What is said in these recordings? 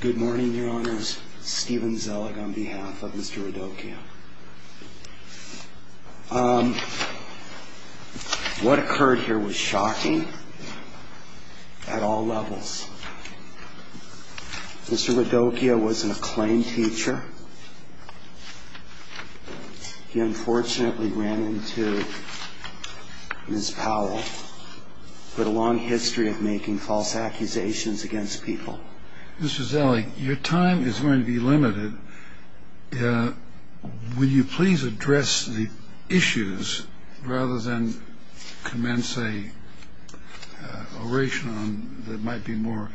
Good morning, Your Honors. Stephen Zellig on behalf of Mr. Radocchia. What occurred here was shocking at all levels. Mr. Radocchia was an acclaimed teacher. He unfortunately ran into Ms. Powell, but a long history of making false accusations against people. Mr. Zellig, your time is going to be limited. Will you please address the issues rather than commence a oration that might be more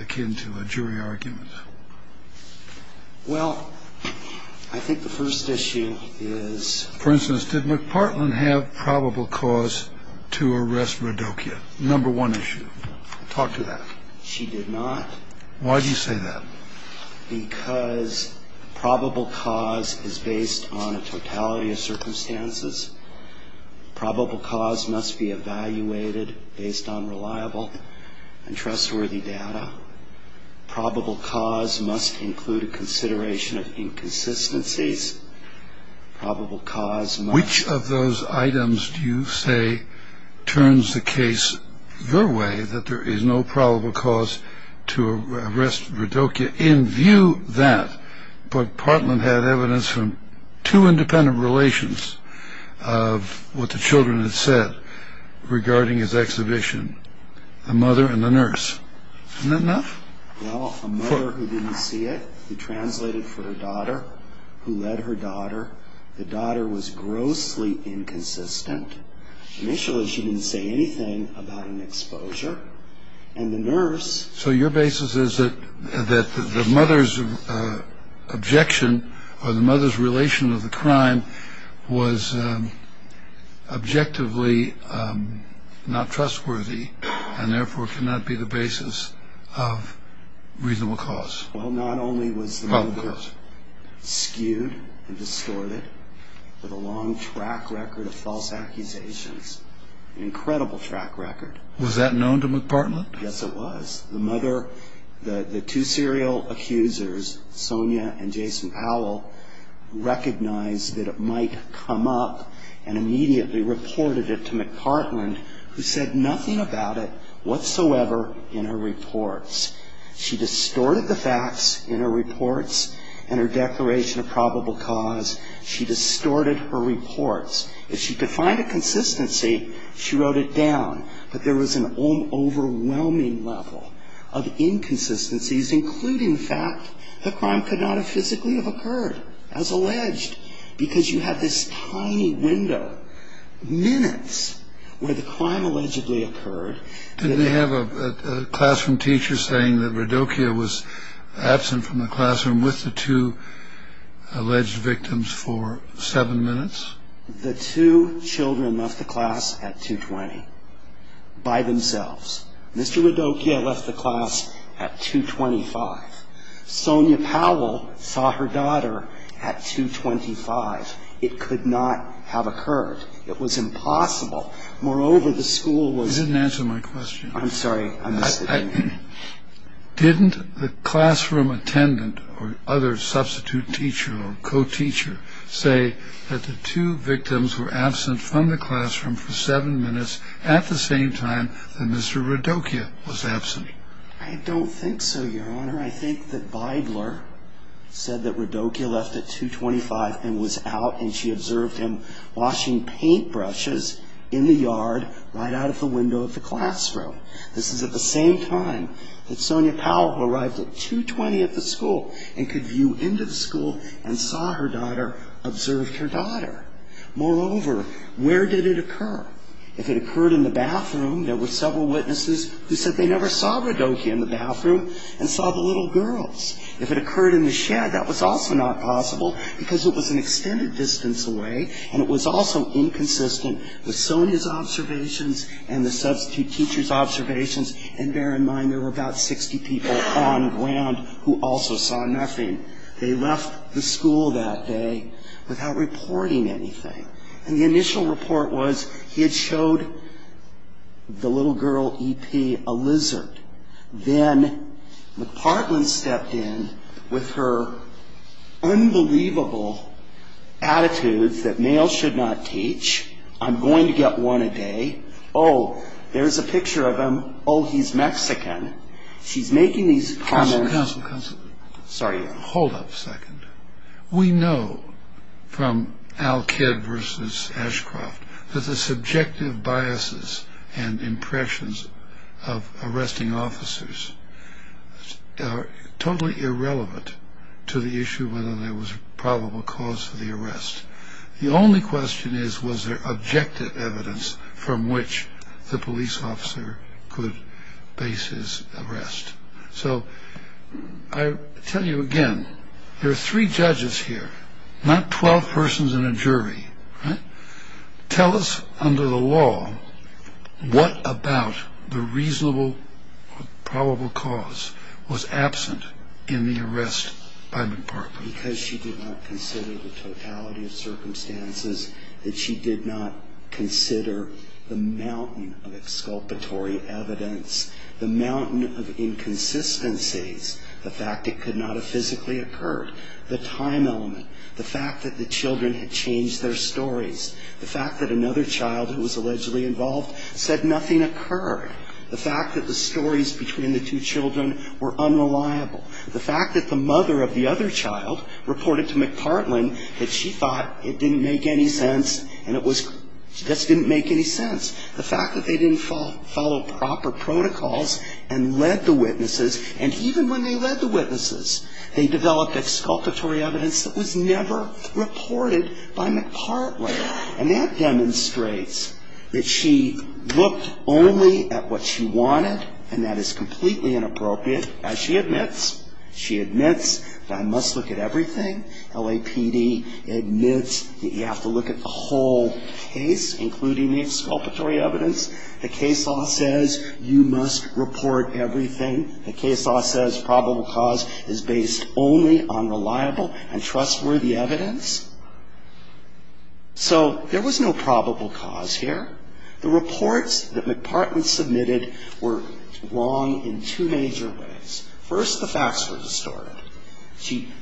akin to a jury argument? Well, I think the first issue is... For instance, did McPartland have probable cause to arrest Radocchia? Number one issue. Talk to that. She did not. Why do you say that? Because probable cause is based on a totality of circumstances. Probable cause must be evaluated based on reliable and trustworthy data. Probable cause must include a consideration of inconsistencies. Probable cause must... Which of those items do you say turns the case your way that there is no probable cause to arrest Radocchia? In view that, McPartland had evidence from two independent relations of what the children had said regarding his exhibition, the mother and the nurse. Isn't that enough? Well, a mother who didn't see it, who translated for her daughter, who led her daughter. The daughter was grossly inconsistent. Initially, she didn't say anything about an exposure. And the nurse... So your basis is that the mother's objection or the mother's relation of the crime was objectively not trustworthy and therefore cannot be the basis of reasonable cause? Well, not only was the mother skewed and distorted with a long track record of false accusations, an incredible track record. Was that known to McPartland? Yes, it was. The mother, the two serial accusers, Sonia and Jason Powell, recognized that it might come up and immediately reported it to McPartland, who said nothing about it whatsoever in her reports. She distorted the facts in her reports and her declaration of probable cause. She distorted her reports. If she could find a consistency, she wrote it down. But there was an overwhelming level of inconsistencies, including the fact the crime could not have physically occurred, as alleged, because you had this tiny window, minutes, where the crime allegedly occurred. Did they have a classroom teacher saying that Radokia was absent from the classroom with the two alleged victims for seven minutes? The two children left the class at 2.20 by themselves. Mr. Radokia left the class at 2.25. Sonia Powell saw her daughter at 2.25. It could not have occurred. It was impossible. Moreover, the school was – You didn't answer my question. I'm sorry. I missed it. Didn't the classroom attendant or other substitute teacher or co-teacher say that the two victims were absent from the classroom for seven minutes at the same time that Mr. Radokia was absent? I don't think so, Your Honor. I think that Bibler said that Radokia left at 2.25 and was out, and she observed him washing paintbrushes in the yard right out of the window of the classroom. This is at the same time that Sonia Powell, who arrived at 2.20 at the school and could view into the school and saw her daughter, observed her daughter. Moreover, where did it occur? If it occurred in the bathroom, there were several witnesses who said they never saw Radokia in the bathroom and saw the little girls. If it occurred in the shed, that was also not possible because it was an extended distance away, and it was also inconsistent with Sonia's observations and the substitute teacher's observations. And bear in mind there were about 60 people on ground who also saw nothing. They left the school that day without reporting anything. And the initial report was he had showed the little girl, E.P., a lizard. Then McPartland stepped in with her unbelievable attitudes that males should not teach. I'm going to get one a day. Oh, there's a picture of him. Oh, he's Mexican. She's making these comments. Counsel, counsel, counsel. Sorry, Your Honor. Hold up a second. We know from Al Kidd versus Ashcroft that the subjective biases and impressions of arresting officers are totally irrelevant to the issue whether there was probable cause for the arrest. The only question is was there objective evidence from which the police officer could base his arrest. So I tell you again, there are three judges here, not 12 persons and a jury. Tell us under the law what about the reasonable probable cause was absent in the arrest by McPartland. Because she did not consider the totality of circumstances, that she did not consider the mountain of exculpatory evidence, the mountain of inconsistencies, the fact it could not have physically occurred, the time element, the fact that the children had changed their stories, the fact that another child who was allegedly involved said nothing occurred, the fact that the stories between the two children were unreliable, the fact that the mother of the other child reported to McPartland that she thought it didn't make any sense and it was just didn't make any sense, the fact that they didn't follow proper protocols and led the witnesses. And even when they led the witnesses, they developed exculpatory evidence that was never reported by McPartland. And that demonstrates that she looked only at what she wanted and that is completely inappropriate. As she admits, she admits that I must look at everything. LAPD admits that you have to look at the whole case, including the exculpatory evidence. The case law says you must report everything. The case law says probable cause is based only on reliable and trustworthy evidence. So there was no probable cause here. The reports that McPartland submitted were wrong in two major ways. First, the facts were distorted.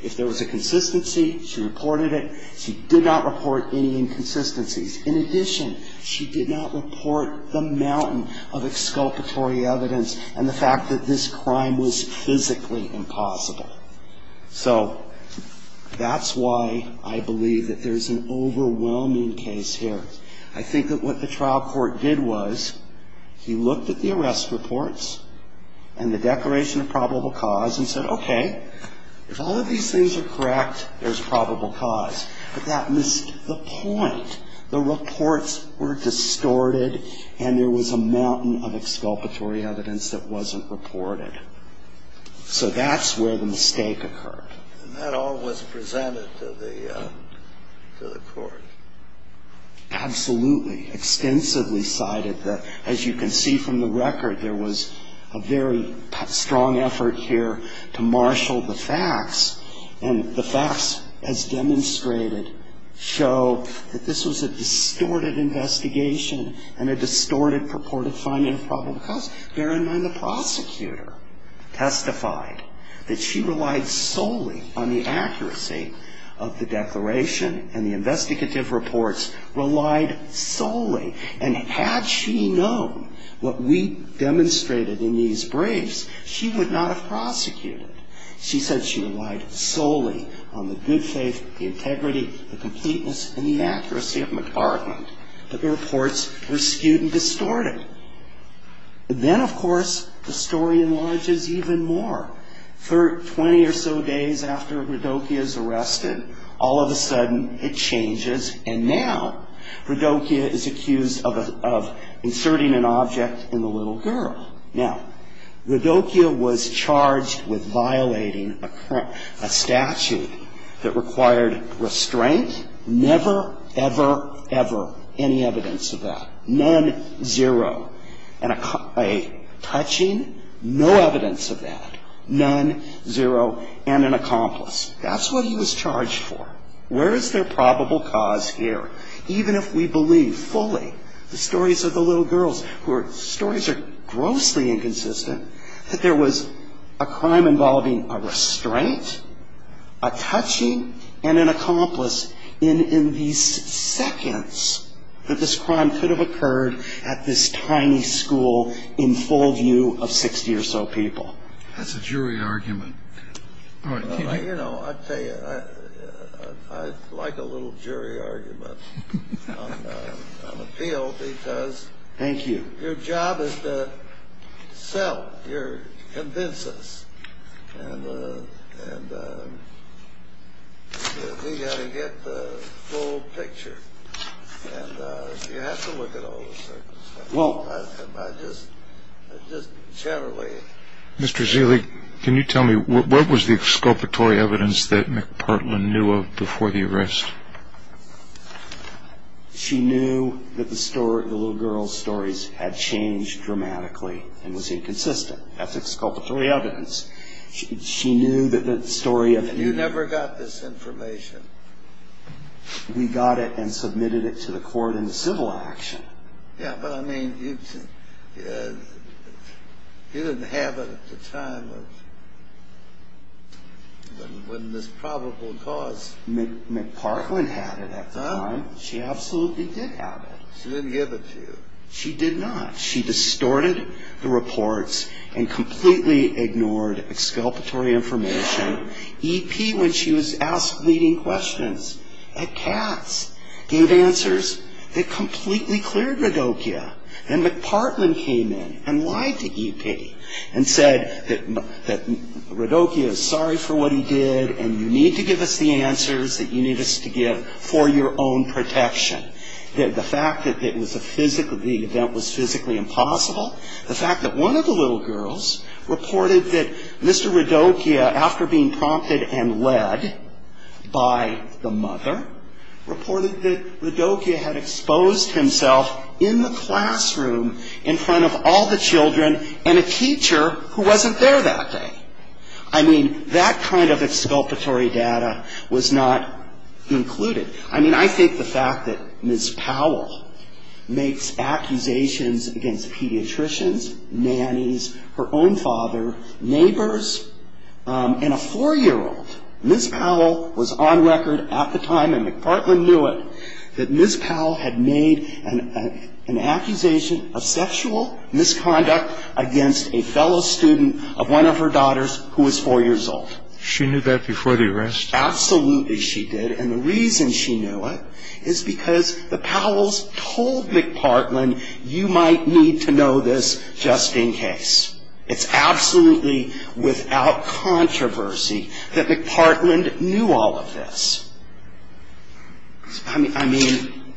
If there was a consistency, she reported it. She did not report any inconsistencies. In addition, she did not report the mountain of exculpatory evidence and the fact that this crime was physically impossible. So that's why I believe that there's an overwhelming case here. I think that what the trial court did was he looked at the arrest reports and the declaration of probable cause and said, okay, if all of these things are correct, there's probable cause. But that missed the point. The reports were distorted and there was a mountain of exculpatory evidence that wasn't reported. So that's where the mistake occurred. And that all was presented to the court. Absolutely. Extensively cited. As you can see from the record, there was a very strong effort here to marshal the facts. And the facts as demonstrated show that this was a distorted investigation and a distorted purported finding of probable cause. Bear in mind the prosecutor testified that she relied solely on the accuracy of the declaration and the investigative reports relied solely. And had she known what we demonstrated in these briefs, she would not have prosecuted. She said she relied solely on the good faith, the integrity, the completeness, and the accuracy of McArthur. But the reports were skewed and distorted. And then, of course, the story enlarges even more. For 20 or so days after Rodokia is arrested, all of a sudden it changes. And now Rodokia is accused of inserting an object in the little girl. Now, Rodokia was charged with violating a statute that required restraint. Never, ever, ever any evidence of that. None, zero. And a touching, no evidence of that. None, zero. And an accomplice. That's what he was charged for. Where is there probable cause here? Even if we believe fully, the stories of the little girls, stories are grossly inconsistent, that there was a crime involving a restraint, a touching, and an accomplice in these seconds that this crime could have occurred at this tiny school in full view of 60 or so people. That's a jury argument. You know, I tell you, I like a little jury argument on appeal because your job is to sell. You're convince us. And we've got to get the full picture. And you have to look at all the circumstances. Just generally. Mr. Ziele, can you tell me, what was the exculpatory evidence that McPartland knew of before the arrest? She knew that the little girl's stories had changed dramatically and was inconsistent. That's exculpatory evidence. She knew that the story of the little girl. You never got this information. We got it and submitted it to the court in civil action. Yeah, but I mean, you didn't have it at the time of when this probable cause. McPartland had it at the time. She absolutely did have it. She didn't give it to you. She did not. She distorted the reports and completely ignored exculpatory information. E.P., when she was asked leading questions at Katz, gave answers that completely cleared Radokia. And McPartland came in and lied to E.P. and said that Radokia is sorry for what he did and you need to give us the answers that you need us to give for your own protection. The fact that it was a physical, the event was physically impossible. The fact that one of the little girls reported that Mr. Radokia, after being prompted and led by the mother, reported that Radokia had exposed himself in the classroom in front of all the children and a teacher who wasn't there that day. I mean, that kind of exculpatory data was not included. I mean, I think the fact that Ms. Powell makes accusations against pediatricians, nannies, her own father, neighbors, and a four-year-old. Ms. Powell was on record at the time, and McPartland knew it, that Ms. Powell had made an accusation of sexual misconduct against a fellow student of one of her daughters who was four years old. She knew that before the arrest? Absolutely she did. And the reason she knew it is because the Powells told McPartland, you might need to know this just in case. It's absolutely without controversy that McPartland knew all of this. I mean,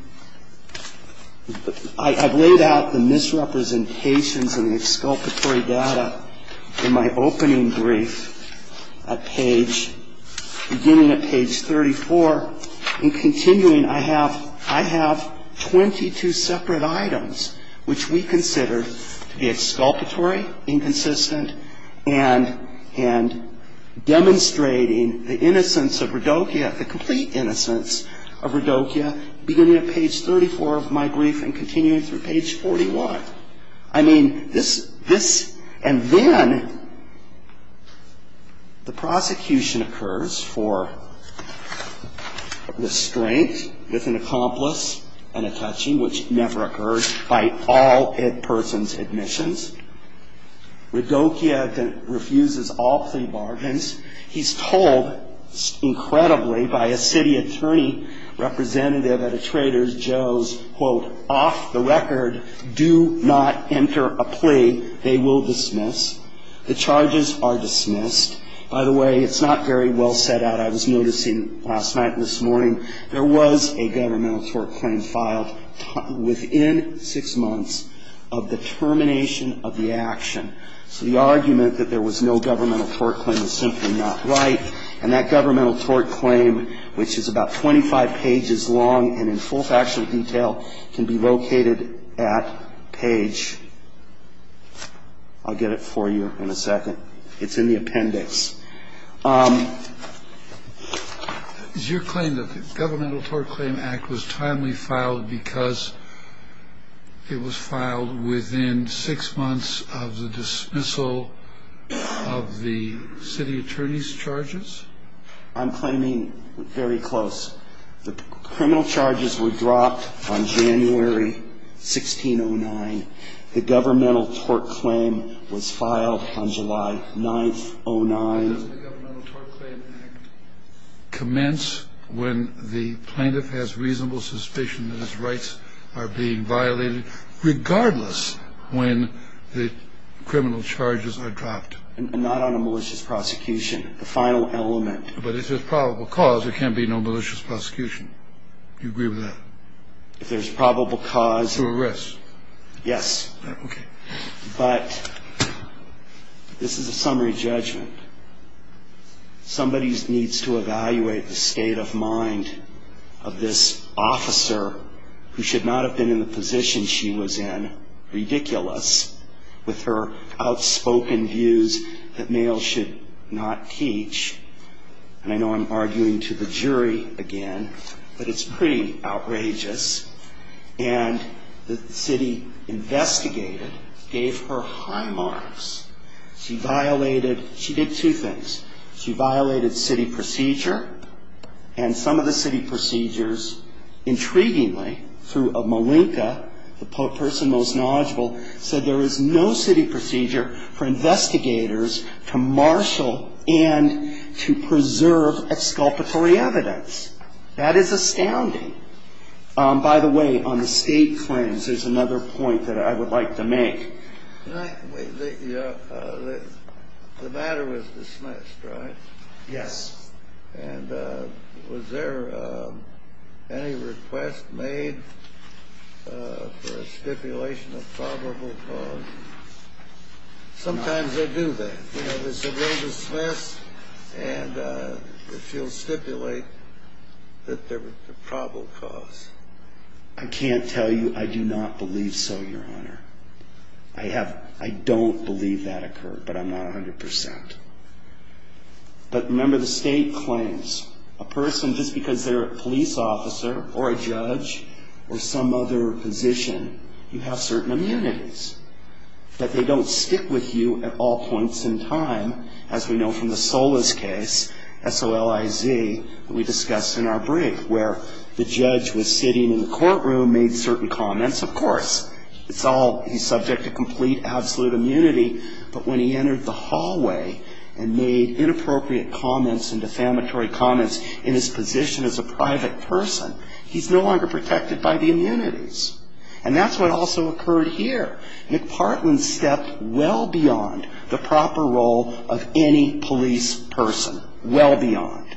I've laid out the misrepresentations and the exculpatory data in my opening brief beginning at page 34 and continuing. I have 22 separate items which we consider to be exculpatory, inconsistent, and demonstrating the innocence of Radokia, the complete innocence of Radokia, beginning at page 34 of my brief and continuing through page 41. I mean, this and then the prosecution occurs for the strength with an accomplice and a touching, which never occurs by all persons' admissions. Radokia refuses all plea bargains. He's told incredibly by a city attorney representative at a Trader Joe's, quote, off the record, do not enter a plea. They will dismiss. The charges are dismissed. By the way, it's not very well set out. I was noticing last night and this morning, there was a governmental tort claim filed within six months of the termination of the action. So the argument that there was no governmental tort claim is simply not right. And that governmental tort claim, which is about 25 pages long and in full factual detail, can be located at page ‑‑ I'll get it for you in a second. It's in the appendix. Is your claim that the governmental tort claim act was timely filed because it was filed within six months of the dismissal of the city attorney's charges? I'm claiming very close. The criminal charges were dropped on January 1609. The governmental tort claim was filed on July 9th, 09. Does the governmental tort claim act commence when the plaintiff has reasonable suspicion that his rights are being violated regardless when the criminal charges are dropped? Not on a malicious prosecution. The final element. But if there's probable cause, there can't be no malicious prosecution. Do you agree with that? If there's probable cause. To arrest. Yes. Okay. But this is a summary judgment. Somebody needs to evaluate the state of mind of this officer who should not have been in the position she was in, ridiculous, with her outspoken views that males should not teach. And I know I'm arguing to the jury again, but it's pretty outrageous. And the city investigated, gave her high marks. She violated, she did two things. She violated city procedure, and some of the city procedures, intriguingly, through Malinka, the person most knowledgeable, said there is no city procedure for investigators to marshal and to preserve exculpatory evidence. That is astounding. By the way, on the state claims, there's another point that I would like to make. The matter was dismissed, right? Yes. And was there any request made for a stipulation of probable cause? Sometimes they do that. You know, there's a little dismiss, and if you'll stipulate that there was a probable cause. I can't tell you. I do not believe so, Your Honor. I don't believe that occurred, but I'm not 100%. But remember, the state claims a person, just because they're a police officer or a judge or some other position, you have certain immunities, that they don't stick with you at all points in time, as we know from the Solis case, S-O-L-I-Z, that we discussed in our brief, where the judge was sitting in the courtroom, made certain comments. Of course, it's all, he's subject to complete, absolute immunity, but when he entered the hallway and made inappropriate comments and defamatory comments in his position as a private person, he's no longer protected by the immunities. And that's what also occurred here. McPartland stepped well beyond the proper role of any police person, well beyond.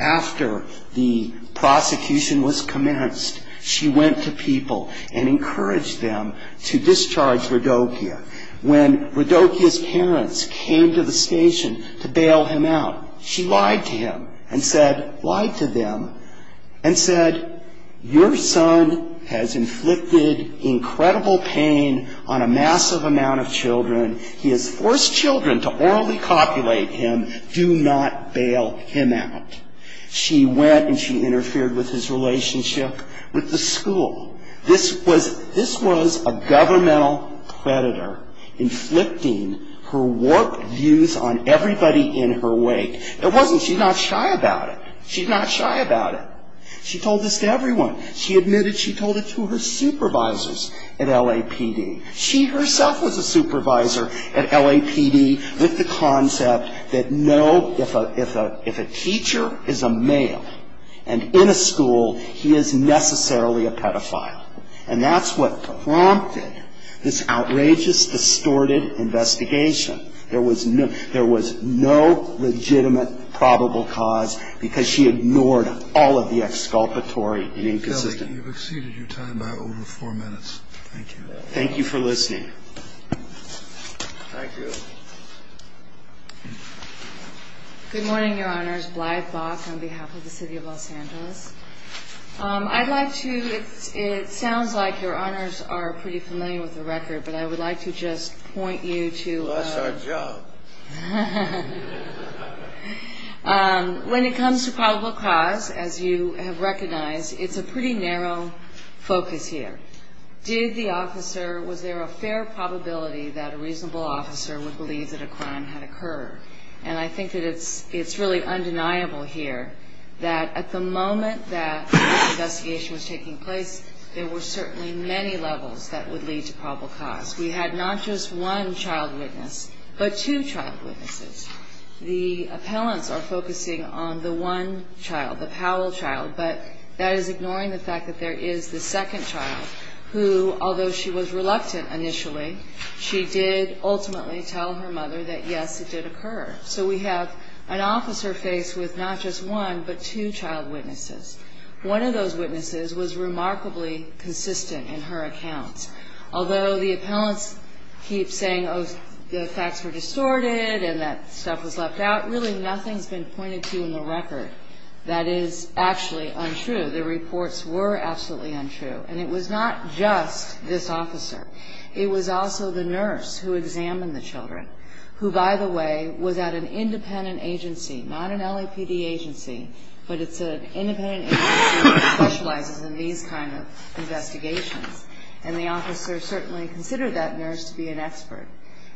After the prosecution was commenced, she went to people and encouraged them to discharge Radokia. When Radokia's parents came to the station to bail him out, she lied to him and said, lied to them, and said, your son has inflicted incredible pain on a massive amount of children. He has forced children to orally copulate him. Do not bail him out. She went and she interfered with his relationship with the school. This was a governmental predator inflicting her warped views on everybody in her wake. It wasn't she's not shy about it. She's not shy about it. She told this to everyone. She admitted she told it to her supervisors at LAPD. She herself was a supervisor at LAPD with the concept that no, if a teacher is a male and in a school, he is necessarily a pedophile. And that's what prompted this outrageous, distorted investigation. There was no legitimate probable cause because she ignored all of the exculpatory and inconsistent. You feel like you've exceeded your time by over four minutes. Thank you. Thank you for listening. Thank you. Good morning, Your Honors. Blythe Bach on behalf of the City of Los Angeles. I'd like to, it sounds like Your Honors are pretty familiar with the record, but I would like to just point you to. We lost our job. When it comes to probable cause, as you have recognized, it's a pretty narrow focus here. Did the officer, was there a fair probability that a reasonable officer would believe that a crime had occurred? And I think that it's really undeniable here that at the moment that this investigation was taking place, there were certainly many levels that would lead to probable cause. We had not just one child witness, but two child witnesses. The appellants are focusing on the one child, the Powell child, but that is ignoring the fact that there is the second child who, although she was reluctant initially, she did ultimately tell her mother that, yes, it did occur. So we have an officer face with not just one, but two child witnesses. One of those witnesses was remarkably consistent in her accounts. Although the appellants keep saying, oh, the facts were distorted and that stuff was left out, really nothing's been pointed to in the record that is actually untrue. The reports were absolutely untrue. And it was not just this officer. It was also the nurse who examined the children, who, by the way, was at an independent agency, not an LAPD agency, but it's an independent agency that specializes in these kind of investigations. And the officer certainly considered that nurse to be an expert.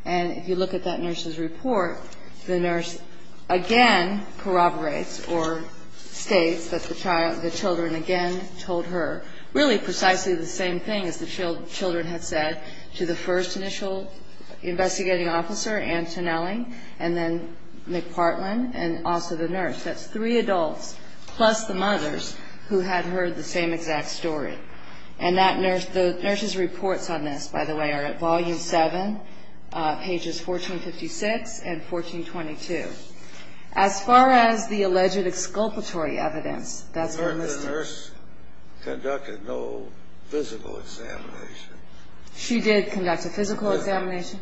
And if you look at that nurse's report, the nurse again corroborates or states that the child, the children again told her really precisely the same thing as the children had said to the first initial investigating officer, Antonelli, and then McPartland, and also the nurse. That's three adults, plus the mothers, who had heard the same exact story. And that nurse, the nurse's reports on this, by the way, are at Volume 7, pages 1456 and 1422. As far as the alleged exculpatory evidence, that's not listed. The nurse conducted no physical examination. She did conduct a physical examination.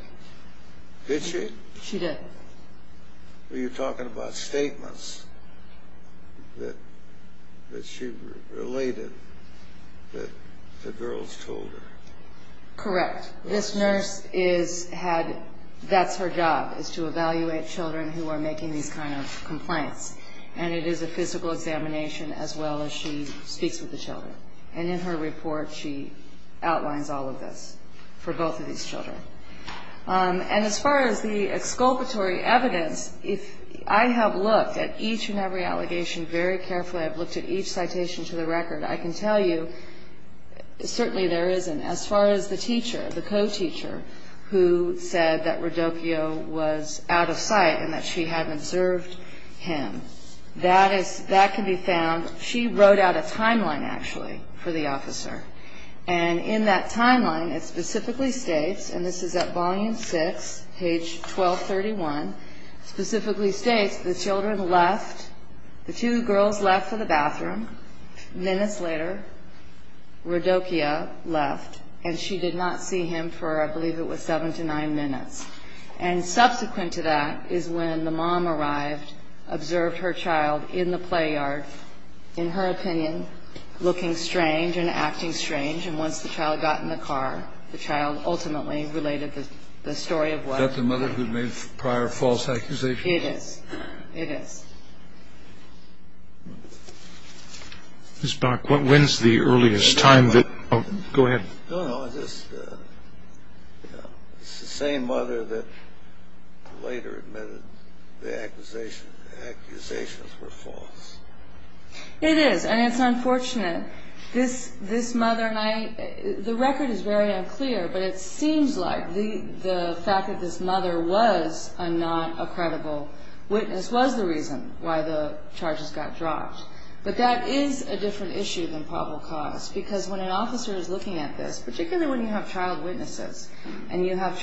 Did she? She did. Are you talking about statements that she related that the girls told her? Correct. This nurse is had ñ that's her job, is to evaluate children who are making these kind of complaints. And it is a physical examination as well as she speaks with the children. And in her report, she outlines all of this for both of these children. And as far as the exculpatory evidence, I have looked at each and every allegation very carefully. I've looked at each citation to the record. I can tell you certainly there isn't, as far as the teacher, the co-teacher, who said that Rodokio was out of sight and that she had observed him. That can be found. She wrote out a timeline, actually, for the officer. And in that timeline, it specifically states, and this is at Volume 6, page 1231, specifically states the children left, the two girls left for the bathroom. Minutes later, Rodokio left, and she did not see him for, I believe it was seven to nine minutes. And subsequent to that is when the mom arrived, observed her child in the play yard, in her opinion, looking strange and acting strange. And once the child got in the car, the child ultimately related the story of what happened. Is that the mother who made prior false accusations? It is. It is. Ms. Dock, when is the earliest time that ‑‑ go ahead. No, no, it's the same mother that later admitted the accusations were false. It is, and it's unfortunate. This mother and I ‑‑ the record is very unclear, but it seems like the fact that this mother was not a credible witness was the reason why the charges got dropped. But that is a different issue than probable cause, because when an officer is looking at this, particularly when you have child witnesses and you have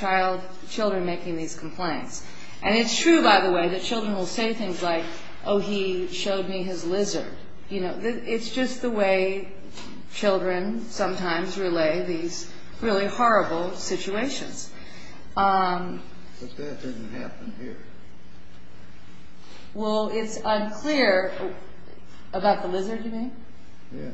children making these complaints, and it's true, by the way, that children will say things like, oh, he showed me his lizard. It's just the way children sometimes relay these really horrible situations. But that didn't happen here. Well, it's unclear about the lizard you mean? Yeah.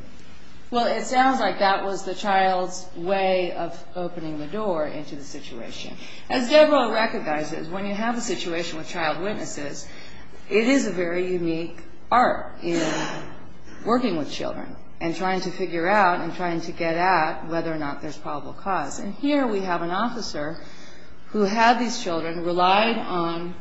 Well, it sounds like that was the child's way of opening the door into the situation. As Deborah recognizes, when you have a situation with child witnesses, it is a very unique art in working with children and trying to figure out and trying to get at whether or not there's probable cause. And here we have an officer who had these children, relied on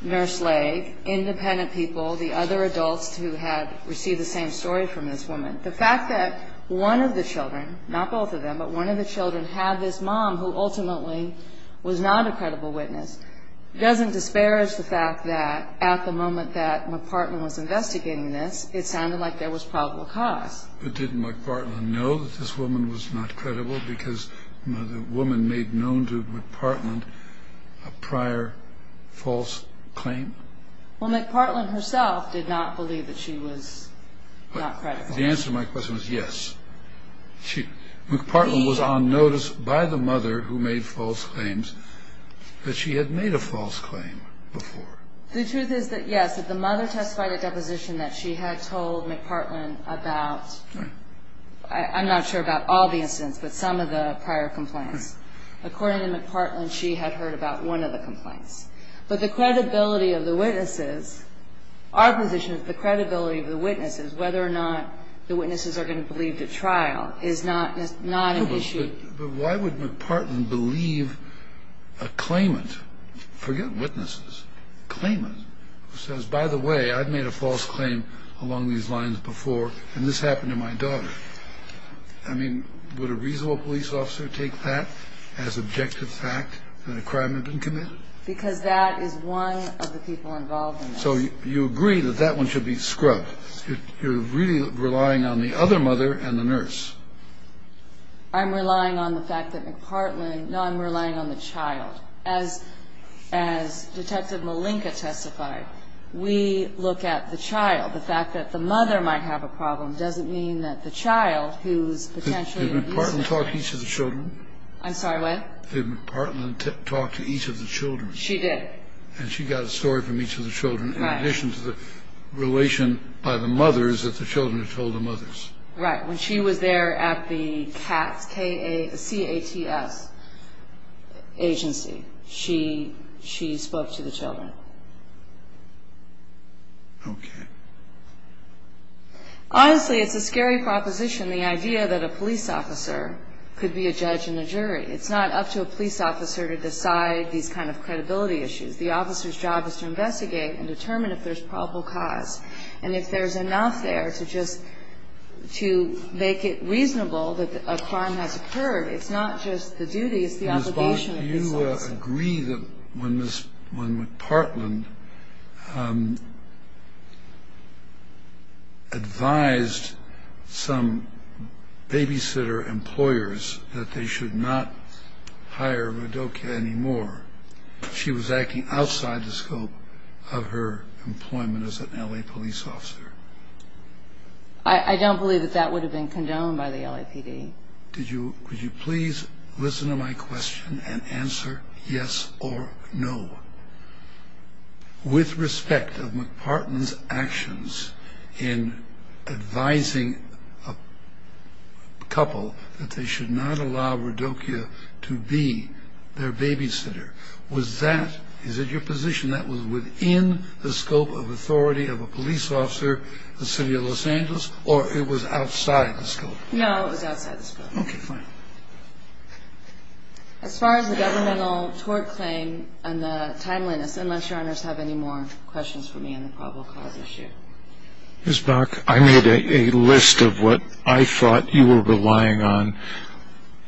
Nurse Lake, independent people, the other adults who had received the same story from this woman. The fact that one of the children, not both of them, but one of the children had this mom who ultimately was not a credible witness doesn't disparage the fact that at the moment that McPartland was investigating this, it sounded like there was probable cause. But didn't McPartland know that this woman was not credible because the woman made known to McPartland a prior false claim? Well, McPartland herself did not believe that she was not credible. The answer to my question is yes. McPartland was on notice by the mother who made false claims that she had made a false claim before. The truth is that yes, that the mother testified at deposition that she had told McPartland about, I'm not sure about all the instances, but some of the prior complaints. According to McPartland, she had heard about one of the complaints. But the credibility of the witnesses, our position is the credibility of the witnesses, whether or not the witnesses are going to believe the trial is not an issue. But why would McPartland believe a claimant, forget witnesses, a claimant who says, by the way, I've made a false claim along these lines before, and this happened to my daughter. I mean, would a reasonable police officer take that as objective fact that a crime had been committed? Because that is one of the people involved in that. So you agree that that one should be scrubbed. You're really relying on the other mother and the nurse. I'm relying on the fact that McPartland, no, I'm relying on the child. As Detective Malinka testified, we look at the child. The fact that the mother might have a problem doesn't mean that the child, who's potentially abusive. Did McPartland talk to each of the children? I'm sorry, what? Did McPartland talk to each of the children? She did. And she got a story from each of the children, in addition to the relation by the mothers that the children had told the mothers. Right. When she was there at the CATS, C-A-T-S, agency, she spoke to the children. Okay. Honestly, it's a scary proposition, the idea that a police officer could be a judge and a jury. It's not up to a police officer to decide these kind of credibility issues. The officer's job is to investigate and determine if there's probable cause, and if there's enough there to just to make it reasonable that a crime has occurred. It's not just the duty, it's the obligation of the officer. Ms. Bosch, do you agree that when Ms. McPartland advised some babysitter employers that they should not hire Rudokia anymore, she was acting outside the scope of her employment as an L.A. police officer? I don't believe that that would have been condoned by the LAPD. Could you please listen to my question and answer yes or no? With respect of McPartland's actions in advising a couple that they should not allow Rudokia to be their babysitter, is it your position that was within the scope of authority of a police officer in the city of Los Angeles, or it was outside the scope? No, it was outside the scope. Okay, fine. As far as the governmental tort claim and the timeliness, unless your honors have any more questions for me on the probable cause issue. Ms. Bosch, I made a list of what I thought you were relying on.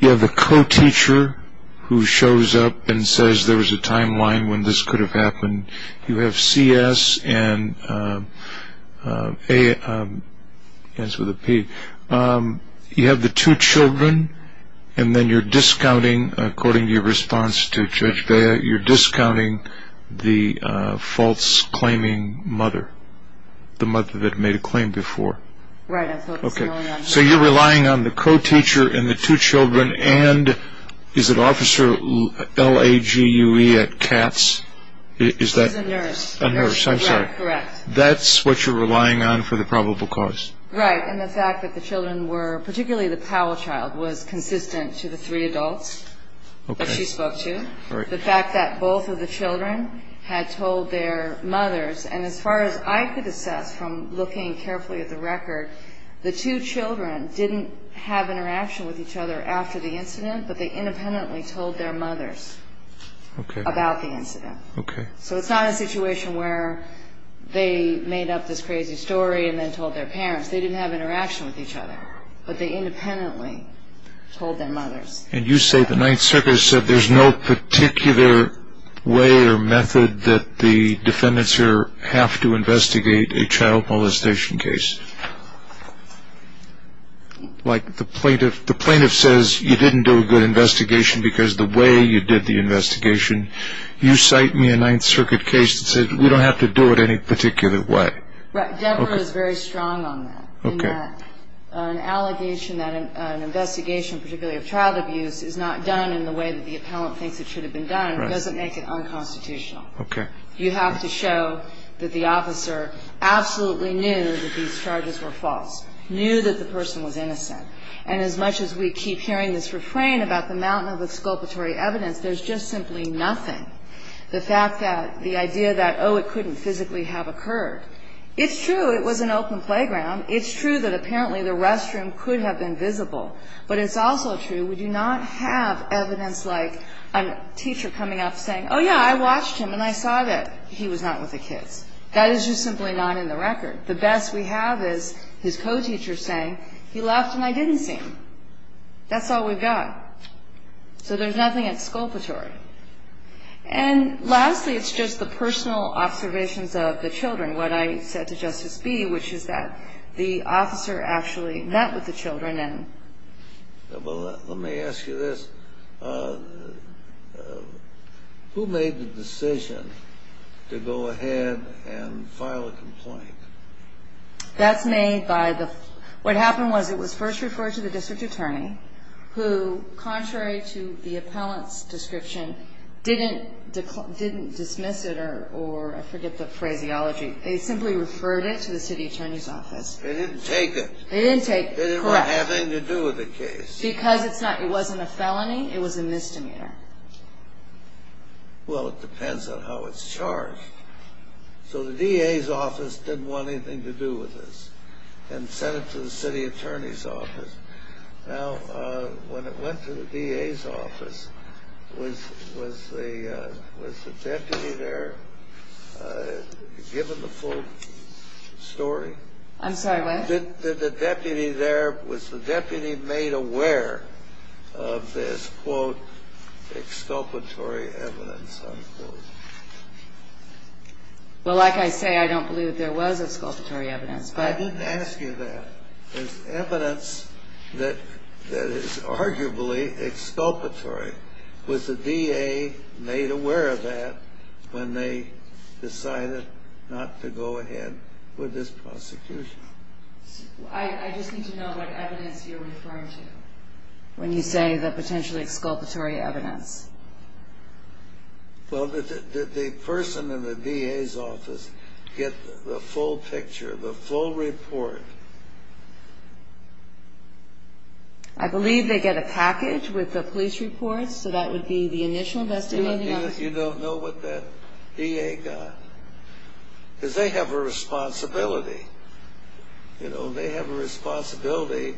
You have the co-teacher who shows up and says there was a timeline when this could have happened. You have C.S. and A.S. with a P. You have the two children, and then you're discounting, according to your response to Judge Bea, you're discounting the false-claiming mother, the mother that made a claim before. Right. So you're relying on the co-teacher and the two children, and is it Officer L-A-G-U-E at Katz? He's a nurse. A nurse, I'm sorry. Correct. That's what you're relying on for the probable cause? Right. And the fact that the children were, particularly the Powell child, was consistent to the three adults that she spoke to. The fact that both of the children had told their mothers, and as far as I could assess from looking carefully at the record, the two children didn't have interaction with each other after the incident, but they independently told their mothers about the incident. Okay. So it's not a situation where they made up this crazy story and then told their parents. They didn't have interaction with each other, but they independently told their mothers. And you say the Ninth Circuit said there's no particular way or method that the defendants here have to investigate a child molestation case. Like the plaintiff says you didn't do a good investigation because the way you did the investigation. You cite me a Ninth Circuit case that said we don't have to do it any particular way. Right. Deborah is very strong on that. Okay. An allegation that an investigation, particularly of child abuse, is not done in the way that the appellant thinks it should have been done doesn't make it unconstitutional. Okay. You have to show that the officer absolutely knew that these charges were false, knew that the person was innocent. And as much as we keep hearing this refrain about the mountain of exculpatory evidence, there's just simply nothing. The fact that the idea that, oh, it couldn't physically have occurred. It's true it was an open playground. It's true that apparently the restroom could have been visible. But it's also true we do not have evidence like a teacher coming up saying, oh, yeah, I watched him and I saw that he was not with the kids. That is just simply not in the record. The best we have is his co-teacher saying he left and I didn't see him. That's all we've got. So there's nothing exculpatory. And lastly, it's just the personal observations of the children. What I said to Justice Bee, which is that the officer actually met with the children and Well, let me ask you this. Who made the decision to go ahead and file a complaint? That's made by the what happened was it was first referred to the district attorney who, contrary to the appellant's description, didn't dismiss it or I forget the phraseology. They simply referred it to the city attorney's office. They didn't take it. They didn't take it, correct. It didn't have anything to do with the case. Because it wasn't a felony. It was a misdemeanor. Well, it depends on how it's charged. So the DA's office didn't want anything to do with this and sent it to the city attorney's office. Now, when it went to the DA's office, was the deputy there given the full story? I'm sorry, what? Was the deputy made aware of this, quote, exculpatory evidence, unquote? Well, like I say, I don't believe there was exculpatory evidence. I didn't ask you that. There's evidence that is arguably exculpatory. Was the DA made aware of that when they decided not to go ahead with this prosecution? I just need to know what evidence you're referring to when you say the potentially exculpatory evidence. Well, did the person in the DA's office get the full picture, the full report? I believe they get a package with the police reports, so that would be the initial investigation. You don't know what that DA got? Because they have a responsibility. You know, they have a responsibility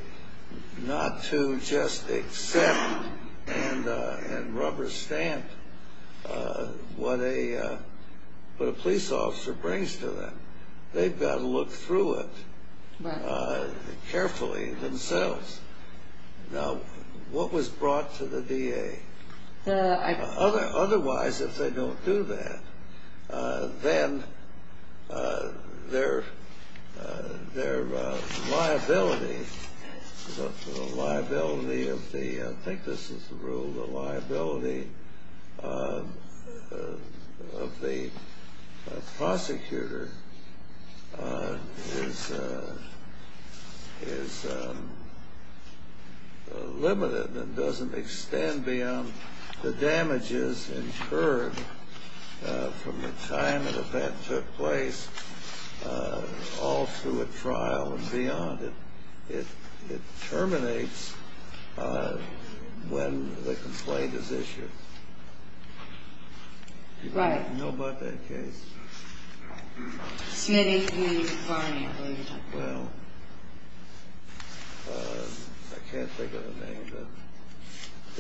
not to just accept and rubber stamp what a police officer brings to them. They've got to look through it carefully themselves. Now, what was brought to the DA? Otherwise, if they don't do that, then their liability, the liability of the, I think this is the rule, the liability of the prosecutor is limited and doesn't extend beyond the damages incurred from the time an event took place all through a trial and beyond. It terminates when the complaint is issued. Right. Do you know about that case? Smitty v. Varney, I believe you're talking about. Well, I can't think of the name, but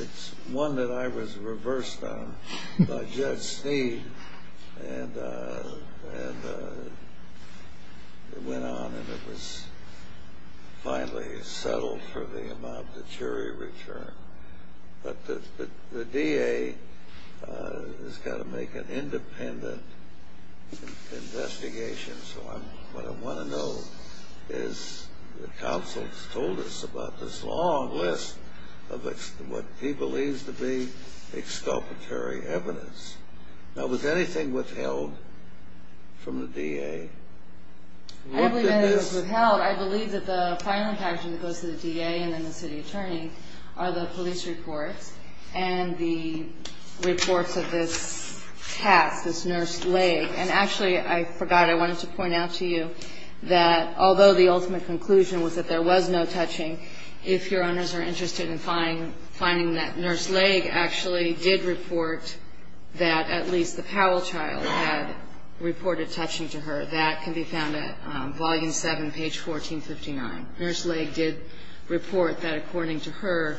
it's one that I was reversed on by Judge Sneed, and it went on and it was finally settled for the amount of the jury return. But the DA has got to make an independent investigation, so what I want to know is, the counsel has told us about this long list of what he believes to be exculpatory evidence. Now, was anything withheld from the DA? I believe that it was withheld. I believe that the filing package that goes to the DA and then the city attorney are the police reports and the reports of this task, this nurse leg. And actually, I forgot, I wanted to point out to you that although the ultimate conclusion was that there was no touching, if your honors are interested in finding that nurse leg actually did report that at least the Powell child had reported touching to her, that can be found at volume 7, page 1459. Nurse leg did report that according to her,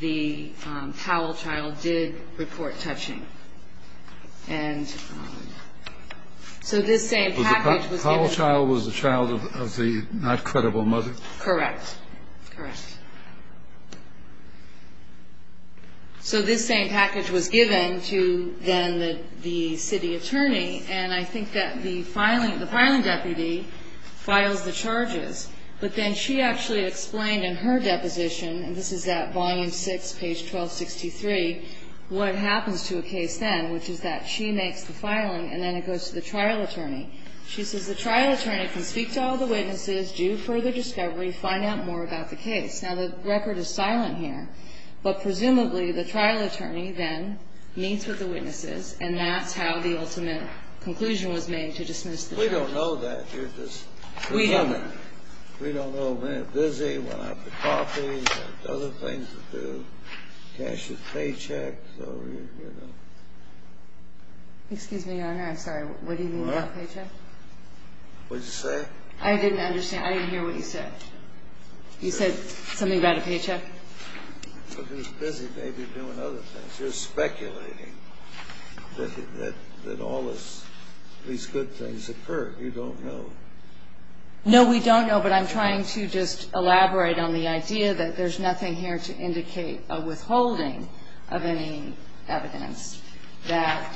the Powell child did report touching. And so this same package was given. The Powell child was the child of the not credible mother? Correct. Correct. So this same package was given to then the city attorney, and I think that the filing, the filing deputy files the charges. But then she actually explained in her deposition, and this is at volume 6, page 1263, what happens to a case then, which is that she makes the filing and then it goes to the trial attorney. She says the trial attorney can speak to all the witnesses, do further discovery, find out more about the case. Now, the record is silent here, but presumably the trial attorney then meets with the witnesses, and that's how the ultimate conclusion was made to dismiss the charge. We don't know that. We don't know. We don't know. We're busy. We're out for coffee. We have other things to do. So, you know. Excuse me, your honor. I'm sorry. What do you mean by paycheck? What did you say? I didn't understand. I didn't hear what you said. You said something about a paycheck? We're busy maybe doing other things. You're speculating that all this, these good things occur. You don't know. No, we don't know, but I'm trying to just elaborate on the idea that there's nothing here to indicate a withholding of any evidence, that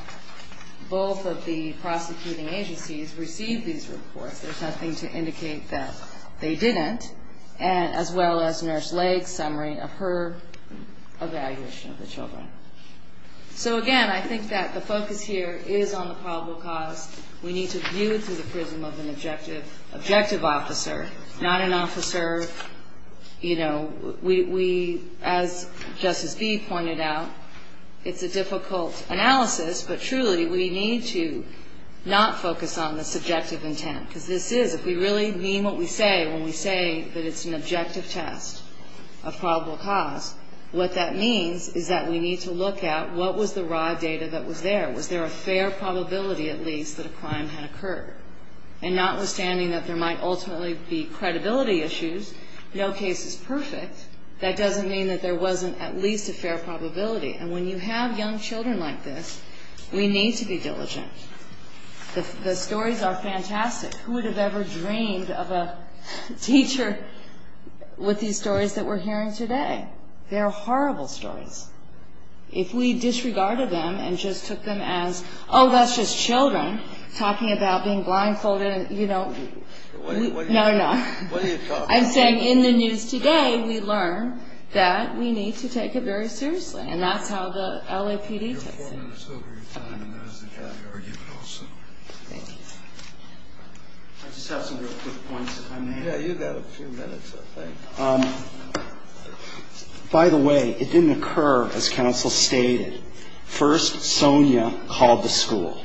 both of the prosecuting agencies received these reports. There's nothing to indicate that they didn't, as well as Nurse Lake's summary of her evaluation of the children. So, again, I think that the focus here is on the probable cause. We need to view it through the prism of an objective officer, not an officer, you know. As Justice Beeb pointed out, it's a difficult analysis, but truly we need to not focus on the subjective intent. Because this is, if we really mean what we say when we say that it's an objective test of probable cause, what that means is that we need to look at what was the raw data that was there. Was there a fair probability, at least, that a crime had occurred? And notwithstanding that there might ultimately be credibility issues, no case is perfect. That doesn't mean that there wasn't at least a fair probability. And when you have young children like this, we need to be diligent. The stories are fantastic. Who would have ever dreamed of a teacher with these stories that we're hearing today? They're horrible stories. If we disregarded them and just took them as, oh, that's just children talking about being blindfolded and, you know. No, no. I'm saying in the news today we learn that we need to take it very seriously. And that's how the LAPD takes it. You're four minutes over your time, and that is the time you're arguing also. Thank you. I just have some real quick points if I may. Yeah, you've got a few minutes, I think. By the way, it didn't occur as counsel stated. First, Sonia called the school,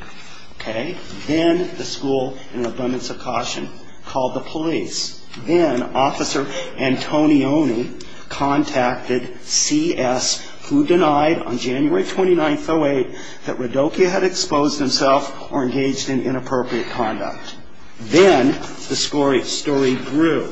okay? Then the school, in an abundance of caution, called the police. Then Officer Antonioni contacted CS, who denied on January 29th, 08, that Radokia had exposed himself or engaged in inappropriate conduct. Then the story grew.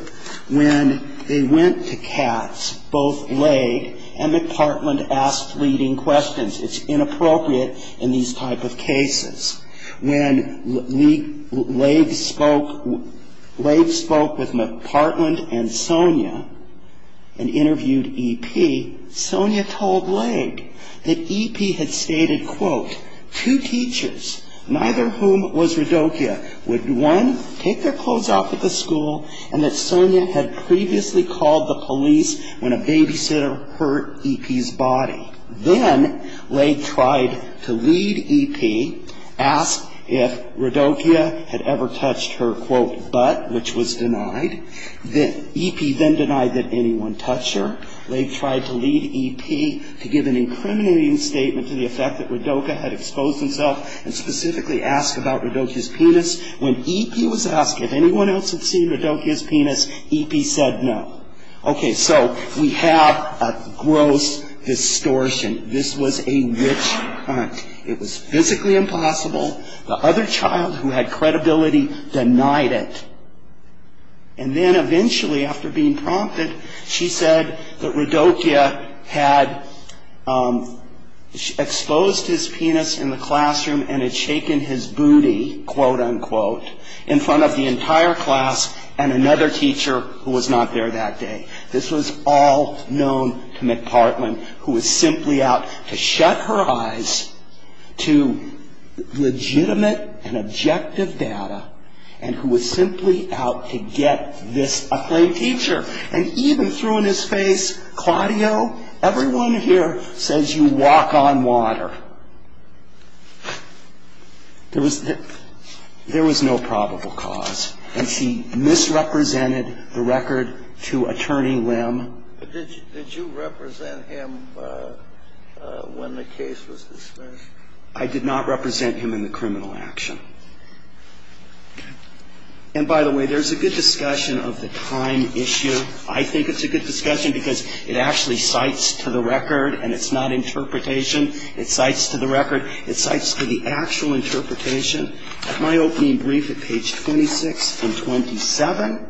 When they went to Katz, both Laid and McPartland asked leading questions. It's inappropriate in these type of cases. When Laid spoke with McPartland and Sonia and interviewed EP, Sonia told Laid that EP had stated, quote, Two teachers, neither whom was Radokia, would, one, take their clothes off at the school, and that Sonia had previously called the police when a babysitter hurt EP's body. Then Laid tried to lead EP, ask if Radokia had ever touched her, quote, butt, which was denied. EP then denied that anyone touched her. Laid tried to lead EP to give an incriminating statement to the effect that Radokia had exposed himself and specifically ask about Radokia's penis. When EP was asked if anyone else had seen Radokia's penis, EP said no. Okay, so we have a gross distortion. This was a witch hunt. It was physically impossible. The other child who had credibility denied it. And then eventually, after being prompted, she said that Radokia had exposed his penis in the classroom and had shaken his booty, quote, unquote, in front of the entire class and another teacher who was not there that day. This was all known to McPartland, who was simply out to shut her eyes to legitimate and objective data and who was simply out to get this acclaimed teacher. And he even threw in his face, Claudio, everyone here says you walk on water. There was no probable cause. And she misrepresented the record to Attorney Lim. Did you represent him when the case was dismissed? I did not represent him in the criminal action. And by the way, there's a good discussion of the time issue. I think it's a good discussion because it actually cites to the record and it's not interpretation. It cites to the record. It cites to the actual interpretation. At my opening brief at page 26 and 27,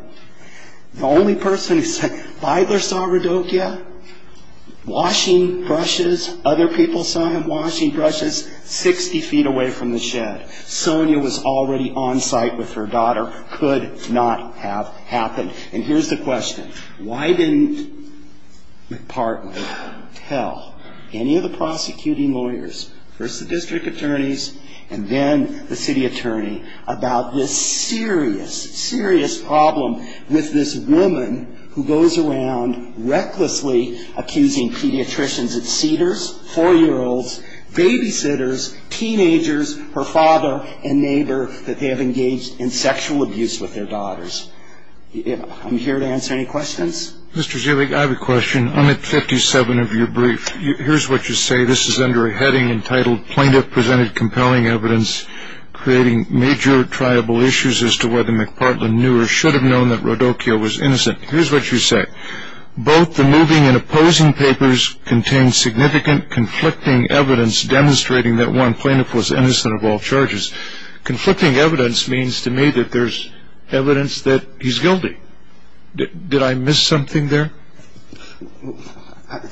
the only person who said, Bidler saw Radokia washing brushes. Other people saw him washing brushes 60 feet away from the shed. Sonia was already on site with her daughter. Could not have happened. And here's the question. Why didn't McPartland tell any of the prosecuting lawyers, first the district attorneys and then the city attorney, about this serious, serious problem with this woman who goes around recklessly accusing pediatricians, it's Cedars, 4-year-olds, babysitters, teenagers, her father and neighbor, that they have engaged in sexual abuse with their daughters. I'm here to answer any questions. Mr. Zubik, I have a question. On the 57th of your brief, here's what you say. This is under a heading entitled Plaintiff Presented Compelling Evidence Creating Major Triable Issues as to Whether McPartland Knew or Should Have Known that Radokia was Innocent. Here's what you say. Both the moving and opposing papers contain significant conflicting evidence demonstrating that one plaintiff was innocent of all charges. Conflicting evidence means to me that there's evidence that he's guilty. Did I miss something there?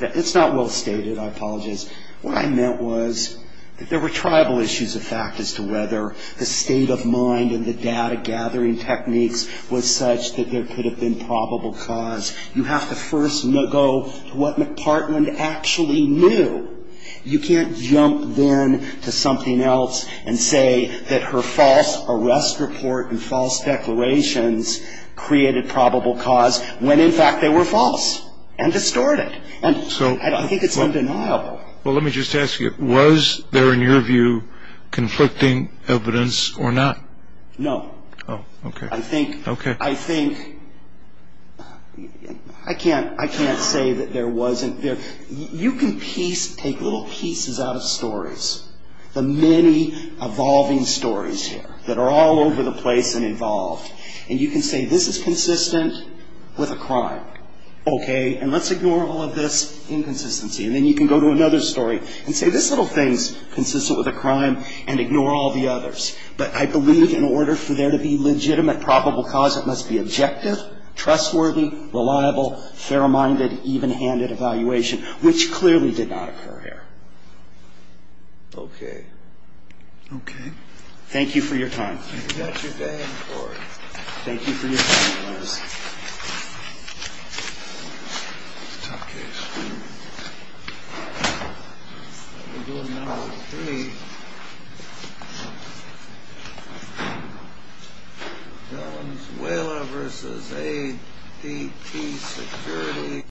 It's not well stated. I apologize. What I meant was that there were tribal issues of fact as to whether the state of mind and the data gathering techniques was such that there could have been probable cause. You have to first go to what McPartland actually knew. You can't jump then to something else and say that her false arrest report and false declarations created probable cause when, in fact, they were false and distorted. And I think it's undeniable. Well, let me just ask you, was there, in your view, conflicting evidence or not? No. Oh, okay. I think I can't say that there wasn't. You can take little pieces out of stories, the many evolving stories here that are all over the place and involved, and you can say this is consistent with a crime. Okay, and let's ignore all of this inconsistency. And then you can go to another story and say this little thing is consistent with a crime and ignore all the others. But I believe in order for there to be legitimate probable cause, it must be objective, reliable, fair-minded, even-handed evaluation, which clearly did not occur here. Okay. Okay. Thank you for your time. Thank you for your time. Okay. We'll go to number three. Valenzuela v. AAPT Security.